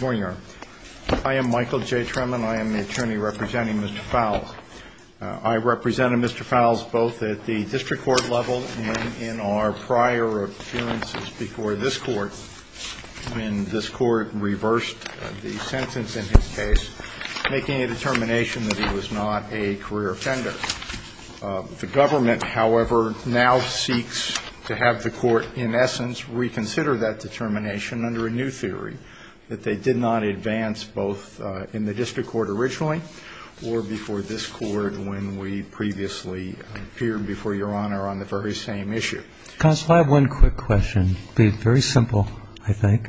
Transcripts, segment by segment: I am Michael J. Tremann. I am the attorney representing Mr. Fowles. I represented Mr. Fowles both at the district court level and in our prior appearances before this court when this court reversed the sentence in his case, making a determination that he was not a career offender. The government, however, now seeks to have the court, in essence, reconsider that determination under a new theory that they did not advance both in the district court originally or before this court when we previously appeared before Your Honor on the very same issue. Counsel, I have one quick question. It will be very simple, I think.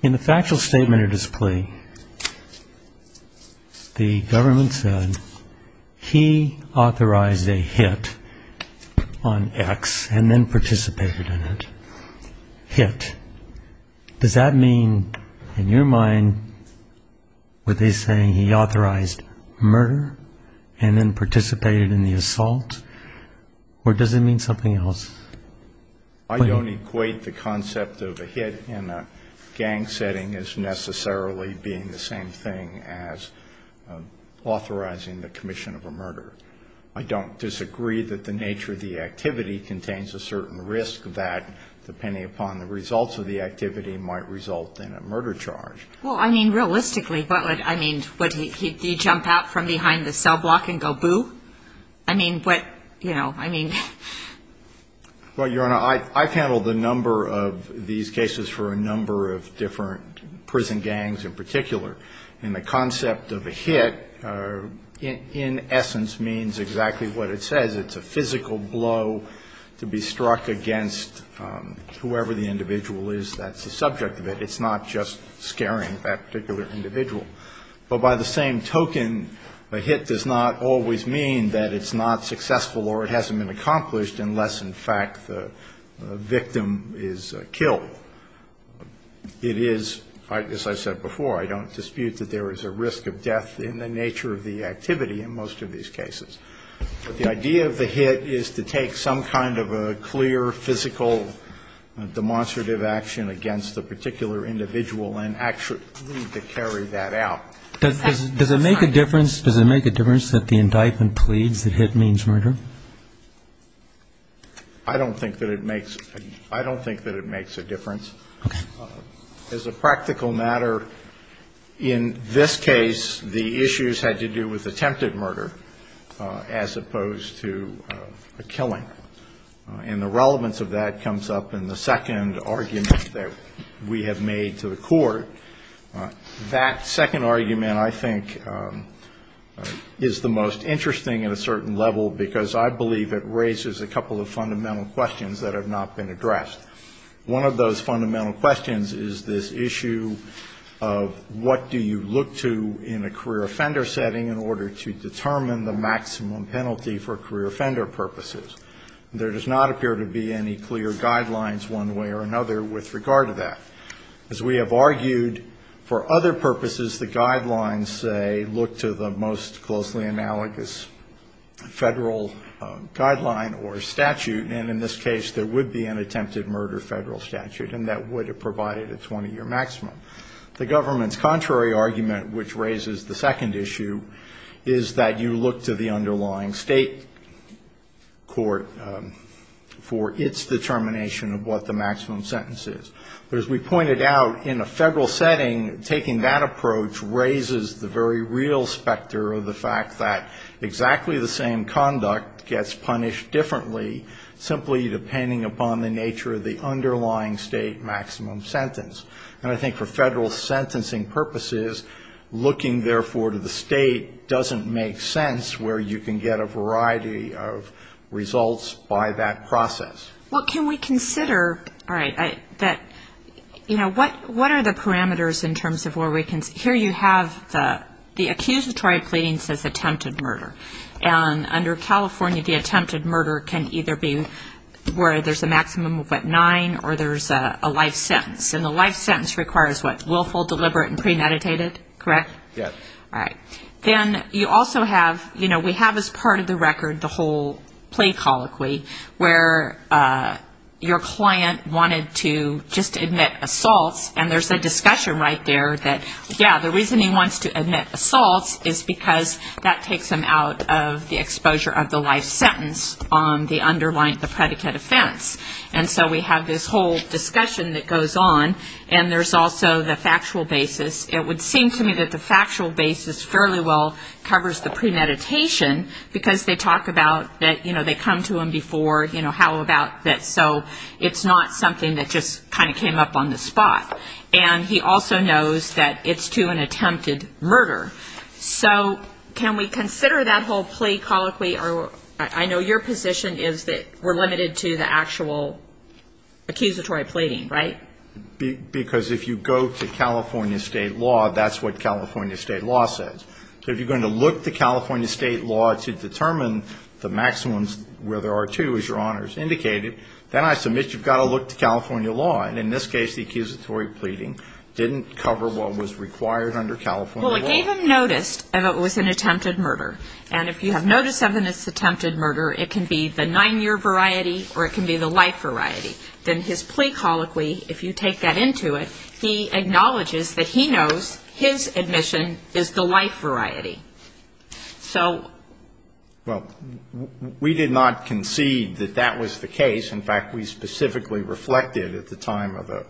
In the factual statement of this plea, the government said he authorized a hit on X and then participated in it. Hit. Does that mean, in your mind, were they saying he authorized murder and then participated in the assault? Or does it mean something else? I don't equate the concept of a hit in a gang setting as necessarily being the same thing as authorizing the commission of a murder. I don't disagree that the nature of the activity contains a certain risk that, depending upon the results of the activity, might result in a murder charge. Well, I mean, realistically, but I mean, would he jump out from behind the cell block and go boo? I mean, but, you know, I mean. Well, Your Honor, I've handled a number of these cases for a number of different prison gangs in particular. And the concept of a hit, in essence, means exactly what it says. It's a physical blow to be struck against whoever the individual is that's the subject of it. It's not just scaring that particular individual. But by the same token, a hit does not always mean that it's not successful or it hasn't been accomplished unless, in fact, the victim is killed. It is, as I said before, I don't dispute that there is a risk of death in the nature of the activity in most of these cases. But the idea of the hit is to take some kind of a clear, physical, demonstrative action against the particular individual and actually to carry that out. Does it make a difference that the indictment pleads that hit means murder? I don't think that it makes a difference. Okay. As a practical matter, in this case, the issues had to do with attempted murder as opposed to a killing. And the relevance of that comes up in the second argument that we have made to the Court. That second argument, I think, is the most interesting at a certain level because I believe it raises a couple of fundamental questions that have not been addressed. One of those fundamental questions is this issue of what do you look to in a career offender setting in order to determine the maximum penalty for career offender purposes. There does not appear to be any clear guidelines one way or another with regard to that. As we have argued, for other purposes, the guidelines say look to the most closely analogous federal guideline or statute. And in this case, there would be an attempted murder federal statute, and that would have provided a 20-year maximum. The government's contrary argument, which raises the second issue, is that you look to the underlying state court for its determination of what the maximum sentence is. But as we pointed out, in a federal setting, taking that approach raises the very real specter of the fact that exactly the same conduct gets punished differently, simply depending upon the nature of the underlying state maximum sentence. And I think for federal sentencing purposes, looking, therefore, to the state doesn't make sense where you can get a variety of results by that process. Well, can we consider, all right, that, you know, what are the parameters in terms of where we can see? Here you have the accusatory pleading says attempted murder. And under California, the attempted murder can either be where there's a maximum of, what, nine, or there's a life sentence. And the life sentence requires, what, willful, deliberate, and premeditated, correct? Yes. All right. Then you also have, you know, we have as part of the record the whole plea colloquy, where your client wanted to just admit assaults, and there's a discussion right there that, yeah, the reason he wants to admit assaults is because that takes him out of the exposure of the life sentence on the underlying, the predicate offense. And so we have this whole discussion that goes on, and there's also the factual basis. It would seem to me that the factual basis fairly well covers the premeditation, because they talk about that, you know, they come to him before, you know, how about this. So it's not something that just kind of came up on the spot. And he also knows that it's to an attempted murder. So can we consider that whole plea colloquy? I know your position is that we're limited to the actual accusatory pleading, right? Because if you go to California state law, that's what California state law says. So if you're going to look to California state law to determine the maximums where there are two, as your honors indicated, then I submit you've got to look to California law. And in this case, the accusatory pleading didn't cover what was required under California law. Well, it gave him notice that it was an attempted murder. And if you have notice of an attempted murder, it can be the nine-year variety or it can be the life variety. Then his plea colloquy, if you take that into it, he acknowledges that he knows his admission is the life variety. So we did not concede that that was the case. In fact, we specifically reflected at the time of a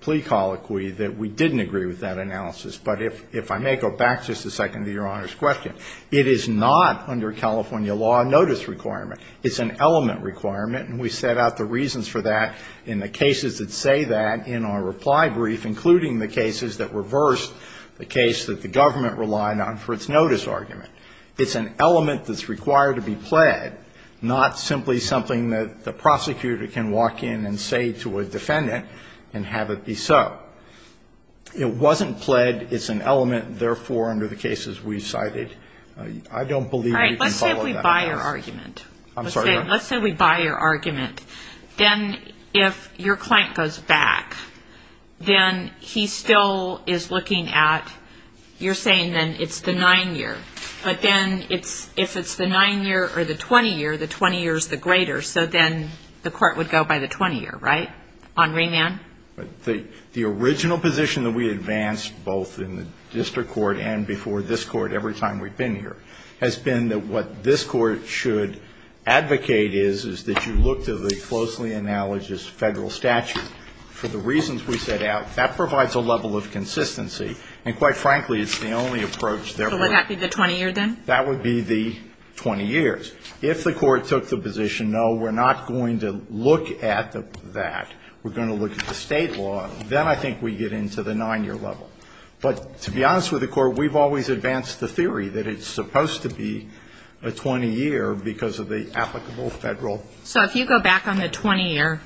plea colloquy that we didn't agree with that analysis. But if I may go back just a second to your honors' question, it is not under California law a notice requirement. It's an element requirement, and we set out the reasons for that in the cases that say that in our reply brief, including the cases that reversed the case that the government relied on for its notice argument. It's an element that's required to be pled, not simply something that the prosecutor can walk in and say to a defendant and have it be so. It wasn't pled. It's an element. Therefore, under the cases we've cited, I don't believe we can follow that. Let's say we buy your argument. Then if your client goes back, then he still is looking at you're saying then it's the 9-year. But then if it's the 9-year or the 20-year, the 20-year is the greater. So then the court would go by the 20-year, right, on remand? The original position that we advanced both in the district court and before this court every time we've been here has been that what this court should advocate is, is that you look to the closely analogous federal statute for the reasons we set out. That provides a level of consistency, and quite frankly, it's the only approach there. So would that be the 20-year then? That would be the 20-years. If the court took the position, no, we're not going to look at that. We're going to look at the state law. Then I think we get into the 9-year level. But to be honest with the court, we've always advanced the theory that it's supposed to be a 20-year because of the applicable federal. So if you go back on the 20-year,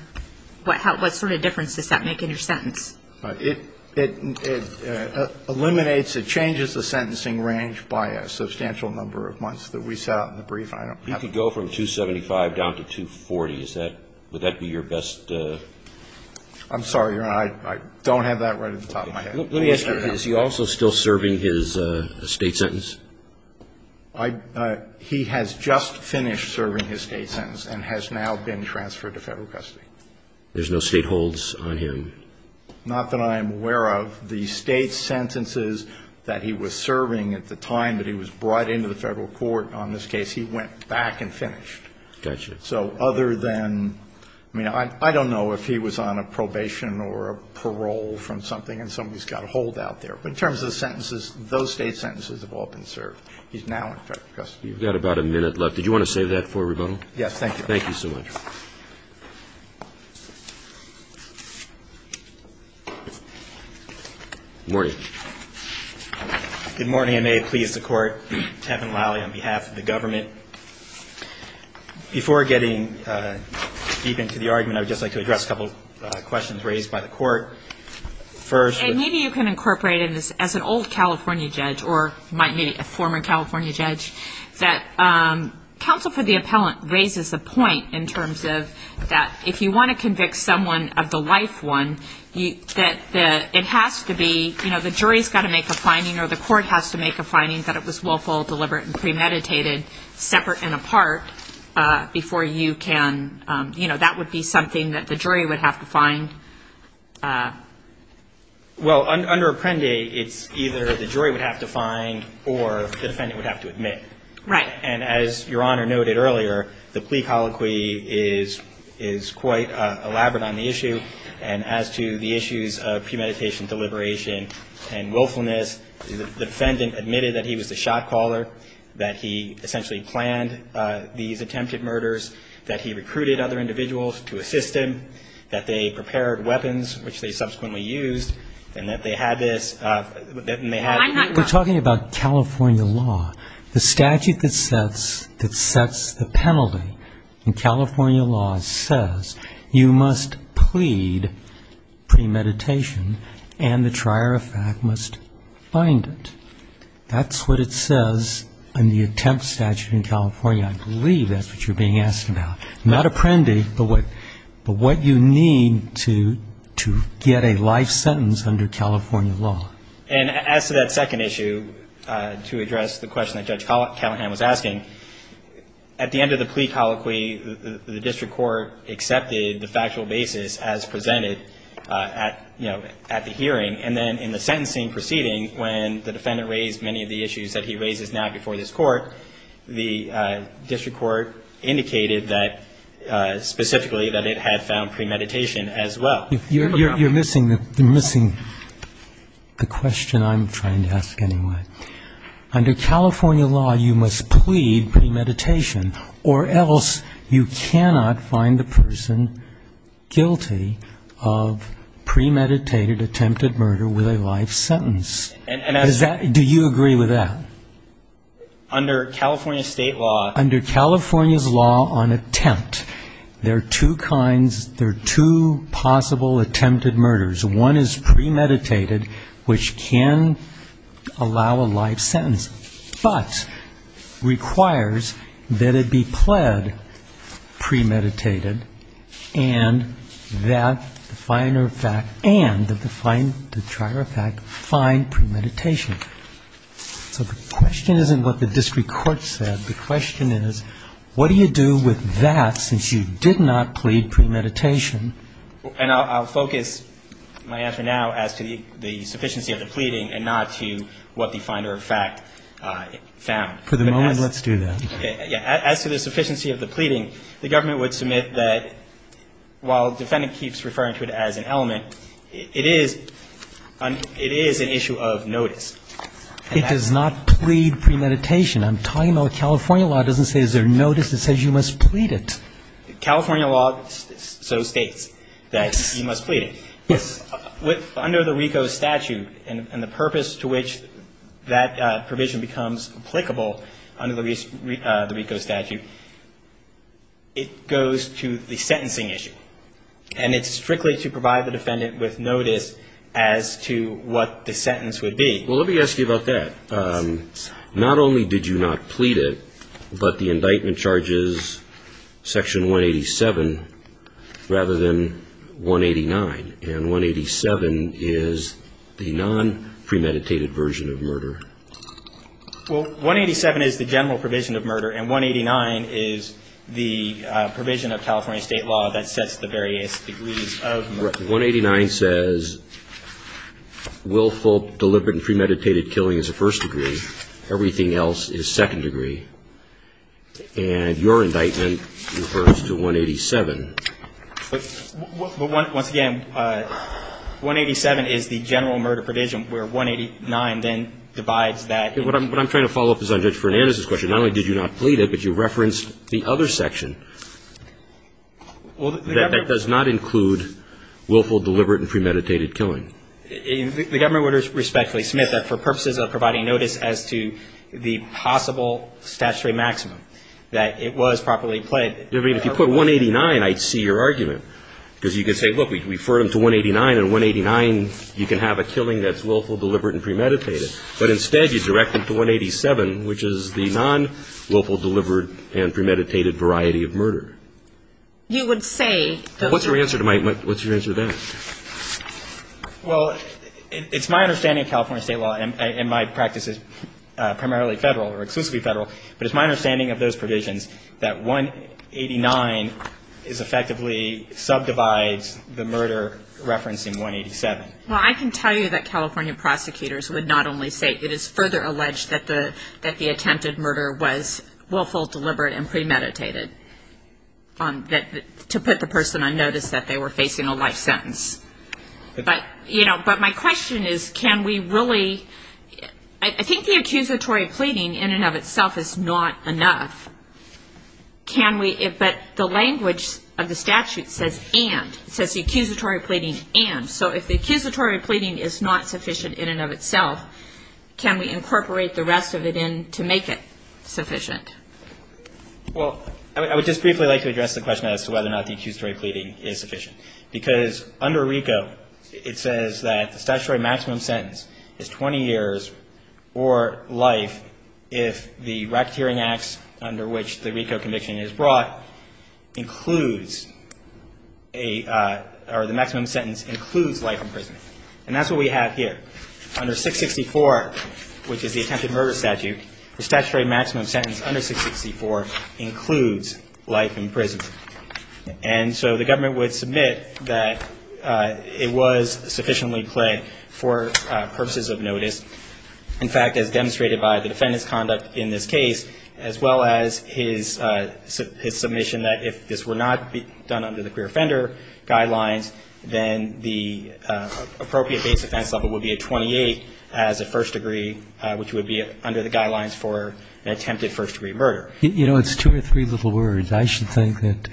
what sort of difference does that make in your sentence? It eliminates, it changes the sentencing range by a substantial number of months that we set out in the brief. You could go from 275 down to 240. Would that be your best? I'm sorry, Your Honor, I don't have that right at the top of my head. Let me ask you, is he also still serving his state sentence? He has just finished serving his state sentence and has now been transferred to federal custody. There's no state holds on him? Not that I'm aware of. The state sentences that he was serving at the time that he was brought into the federal court on this case, he went back and finished. Gotcha. So other than, I mean, I don't know if he was on a probation or a parole from something and somebody's got a hold out there. But in terms of the sentences, those state sentences have all been served. He's now in federal custody. You've got about a minute left. Did you want to save that for rebuttal? Yes, thank you. Thank you so much. Good morning. Good morning. I may please the Court. I'm Kevin Lally on behalf of the government. Before getting deep into the argument, I would just like to address a couple of questions raised by the Court. First. Maybe you can incorporate in this, as an old California judge or might be a former California judge, that counsel for the appellant raises a point in terms of that if you want to convict someone of the life one, that it has to be, you know, the jury's got to make a finding or the court has to make a finding that it was willful, deliberate, and premeditated, separate and apart, before you can, you know, that would be something that the jury would have to find. Well, under Apprendi, it's either the jury would have to find or the defendant would have to admit. Right. And as Your Honor noted earlier, the plea colloquy is quite elaborate on the issue. And as to the issues of premeditation, deliberation, and willfulness, the defendant admitted that he was the shot caller, that he essentially planned these attempted murders, that he recruited other individuals to assist him, that they prepared weapons, which they subsequently used, and that they had this, and they had. We're talking about California law. The statute that sets the penalty in California law says you must plead premeditation and the trier of fact must find it. That's what it says in the attempt statute in California. I believe that's what you're being asked about. Not Apprendi, but what you need to get a life sentence under California law. And as to that second issue, to address the question that Judge Callahan was asking, at the end of the plea colloquy, the district court accepted the factual basis as presented at the hearing. And then in the sentencing proceeding, when the defendant raised many of the issues that he raises now before this court, the district court indicated that specifically that it had found premeditation as well. You're missing the question I'm trying to ask anyway. Under California law, you must plead premeditation, or else you cannot find the person guilty of premeditated attempted murder with a life sentence. Do you agree with that? Under California state law. Under California's law on attempt, there are two kinds, there are two possible attempted murders. One is premeditated, which can allow a life sentence, but requires that it be pled premeditated and that the trier of fact find premeditation. So the question isn't what the district court said. The question is, what do you do with that since you did not plead premeditation? And I'll focus my answer now as to the sufficiency of the pleading and not to what the finder of fact found. For the moment, let's do that. As to the sufficiency of the pleading, the government would submit that while the defendant keeps referring to it as an element, it is an issue of notice. It does not plead premeditation. I'm talking about California law doesn't say is there notice, it says you must plead it. California law so states that you must plead it. Yes. Under the RICO statute and the purpose to which that provision becomes applicable under the RICO statute, it goes to the sentencing issue. And it's strictly to provide the defendant with notice as to what the sentence would be. Well, let me ask you about that. Not only did you not plead it, but the indictment charges Section 187 rather than 189. And 187 is the non-premeditated version of murder. Well, 187 is the general provision of murder, and 189 is the provision of California state law that sets the various degrees of murder. Right. 189 says willful, deliberate, and premeditated killing is the first degree. Everything else is second degree. And your indictment refers to 187. But once again, 187 is the general murder provision where 189 then divides that. What I'm trying to follow up is on Judge Fernandez's question. Not only did you not plead it, but you referenced the other section. That does not include willful, deliberate, and premeditated killing. The government would respectfully submit that for purposes of providing notice as to the possible statutory maximum that it was properly pled. I mean, if you put 189, I'd see your argument. Because you could say, look, we refer them to 189, and 189 you can have a killing that's willful, deliberate, and premeditated. But instead, you direct them to 187, which is the non-willful, deliberate, and premeditated variety of murder. You would say. What's your answer to that? Well, it's my understanding of California state law, and my practice is primarily Federal or exclusively Federal, but it's my understanding of those provisions that 189 effectively subdivides the murder referencing 187. Well, I can tell you that California prosecutors would not only say it. It is further alleged that the attempted murder was willful, deliberate, and premeditated to put the person on notice that they were facing a life sentence. But my question is, can we really? I think the accusatory pleading in and of itself is not enough. Can we? But the language of the statute says and. It says the accusatory pleading and. So if the accusatory pleading is not sufficient in and of itself, can we incorporate the rest of it in to make it sufficient? Well, I would just briefly like to address the question as to whether or not the accusatory pleading is sufficient. Because under RICO, it says that the statutory maximum sentence is 20 years or life if the racketeering acts under which the RICO conviction is brought includes a, or the maximum sentence includes life in prison. And that's what we have here. Under 664, which is the attempted murder statute, And so the government would submit that it was sufficiently plagued for purposes of notice. In fact, as demonstrated by the defendant's conduct in this case, as well as his submission that if this were not done under the queer offender guidelines, then the appropriate base offense level would be a 28 as a first degree, which would be under the guidelines for an attempted first degree murder. You know, it's two or three little words. I should think that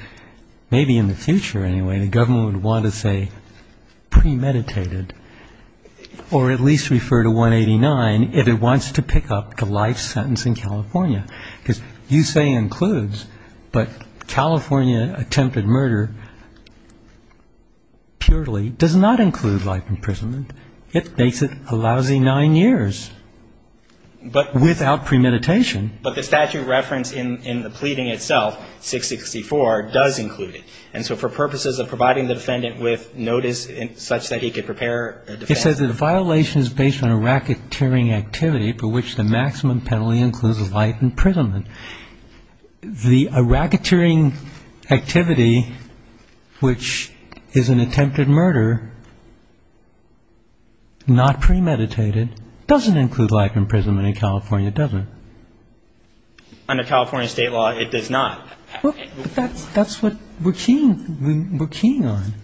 maybe in the future, anyway, the government would want to say premeditated or at least refer to 189 if it wants to pick up the life sentence in California. Because you say includes, but California attempted murder purely does not include life imprisonment. It makes it a lousy nine years. But without premeditation. But the statute reference in the pleading itself, 664, does include it. And so for purposes of providing the defendant with notice such that he could prepare. It says that the violation is based on a racketeering activity for which the maximum penalty includes life imprisonment. The racketeering activity, which is an attempted murder, not premeditated, doesn't include life imprisonment in California, does it? Under California state law, it does not. But that's what we're keen on.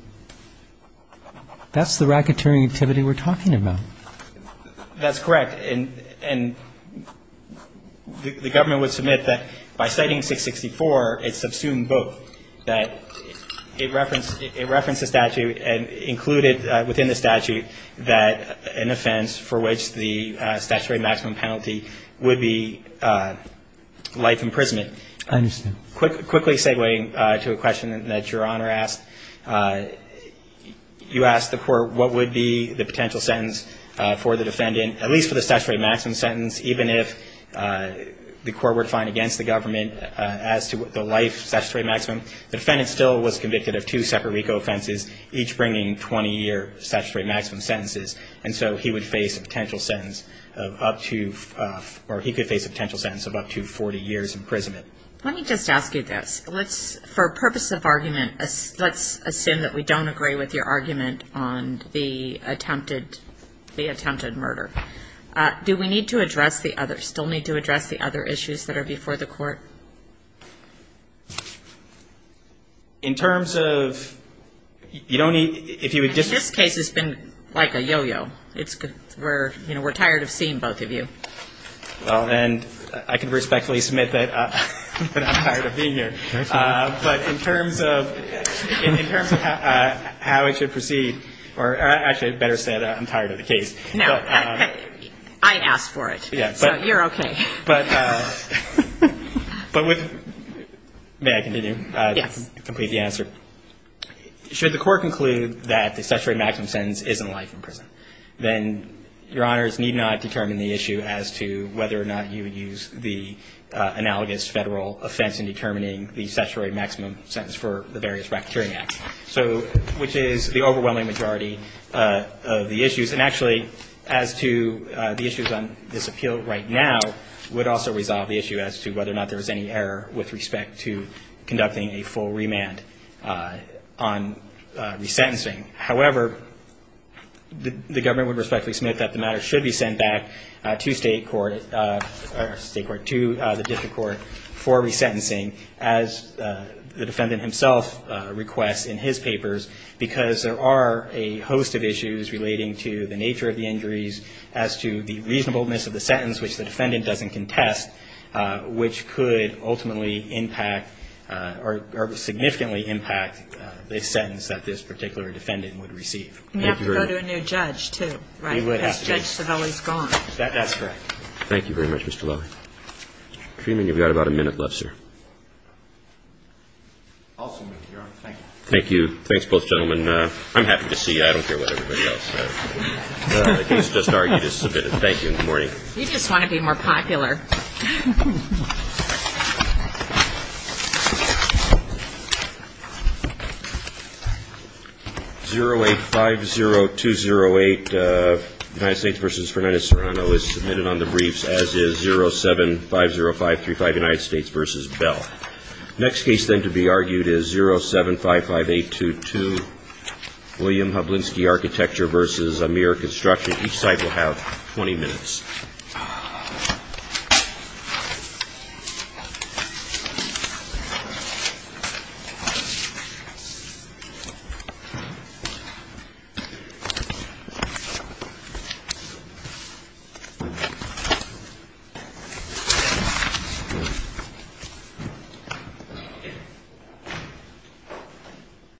That's the racketeering activity we're talking about. That's correct. And the government would submit that by citing 664, it's subsumed both. So that it referenced the statute and included within the statute that an offense for which the statutory maximum penalty would be life imprisonment. I understand. Quickly segueing to a question that Your Honor asked, you asked the court what would be the potential sentence for the defendant, at least for the statutory maximum sentence, even if the court were to find against the government as to the life statutory maximum. The defendant still was convicted of two separate RICO offenses, each bringing 20-year statutory maximum sentences. And so he would face a potential sentence of up to, or he could face a potential sentence of up to 40 years imprisonment. Let me just ask you this. For purposes of argument, let's assume that we don't agree with your argument on the attempted murder. Do we need to address the other, still need to address the other issues that are before the court? In terms of, you don't need, if you would just. This case has been like a yo-yo. We're tired of seeing both of you. Well, then I can respectfully submit that I'm tired of being here. But in terms of how it should proceed, or actually I better say that I'm tired of the case. No. I asked for it. Yes. So you're okay. But with, may I continue? Yes. Complete the answer. Should the court conclude that the statutory maximum sentence isn't life in prison, then Your Honors need not determine the issue as to whether or not you would use the analogous Federal offense in determining the statutory maximum sentence for the various racketeering acts, which is the overwhelming majority of the issues. And actually, as to the issues on this appeal right now would also resolve the issue as to whether or not there was any error with respect to conducting a full remand on resentencing. However, the government would respectfully submit that the matter should be sent back to state court, or state court, to the district court for resentencing, as the defendant himself requests in his papers, because there are a host of issues relating to the nature of the injuries, as to the reasonableness of the sentence, which the defendant doesn't contest, which could ultimately impact or significantly impact the sentence that this particular defendant would receive. And you have to go to a new judge, too, right? Because Judge Civelli is gone. That's correct. Thank you very much, Mr. Loewy. Freeman, you've got about a minute left, sir. Awesome, Your Honor. Thank you. Thanks, both gentlemen. I'm happy to see you. I don't care what everybody else does. The case just argued is submitted. Thank you, and good morning. You just want to be more popular. 0850208, United States v. Fernandez-Serrano, is submitted on the briefs, as is 0750535, United States v. Bell. Next case, then, to be argued is 0755822, William Hublinski Architecture v. Amir Construction. Each side will have 20 minutes. Thank you.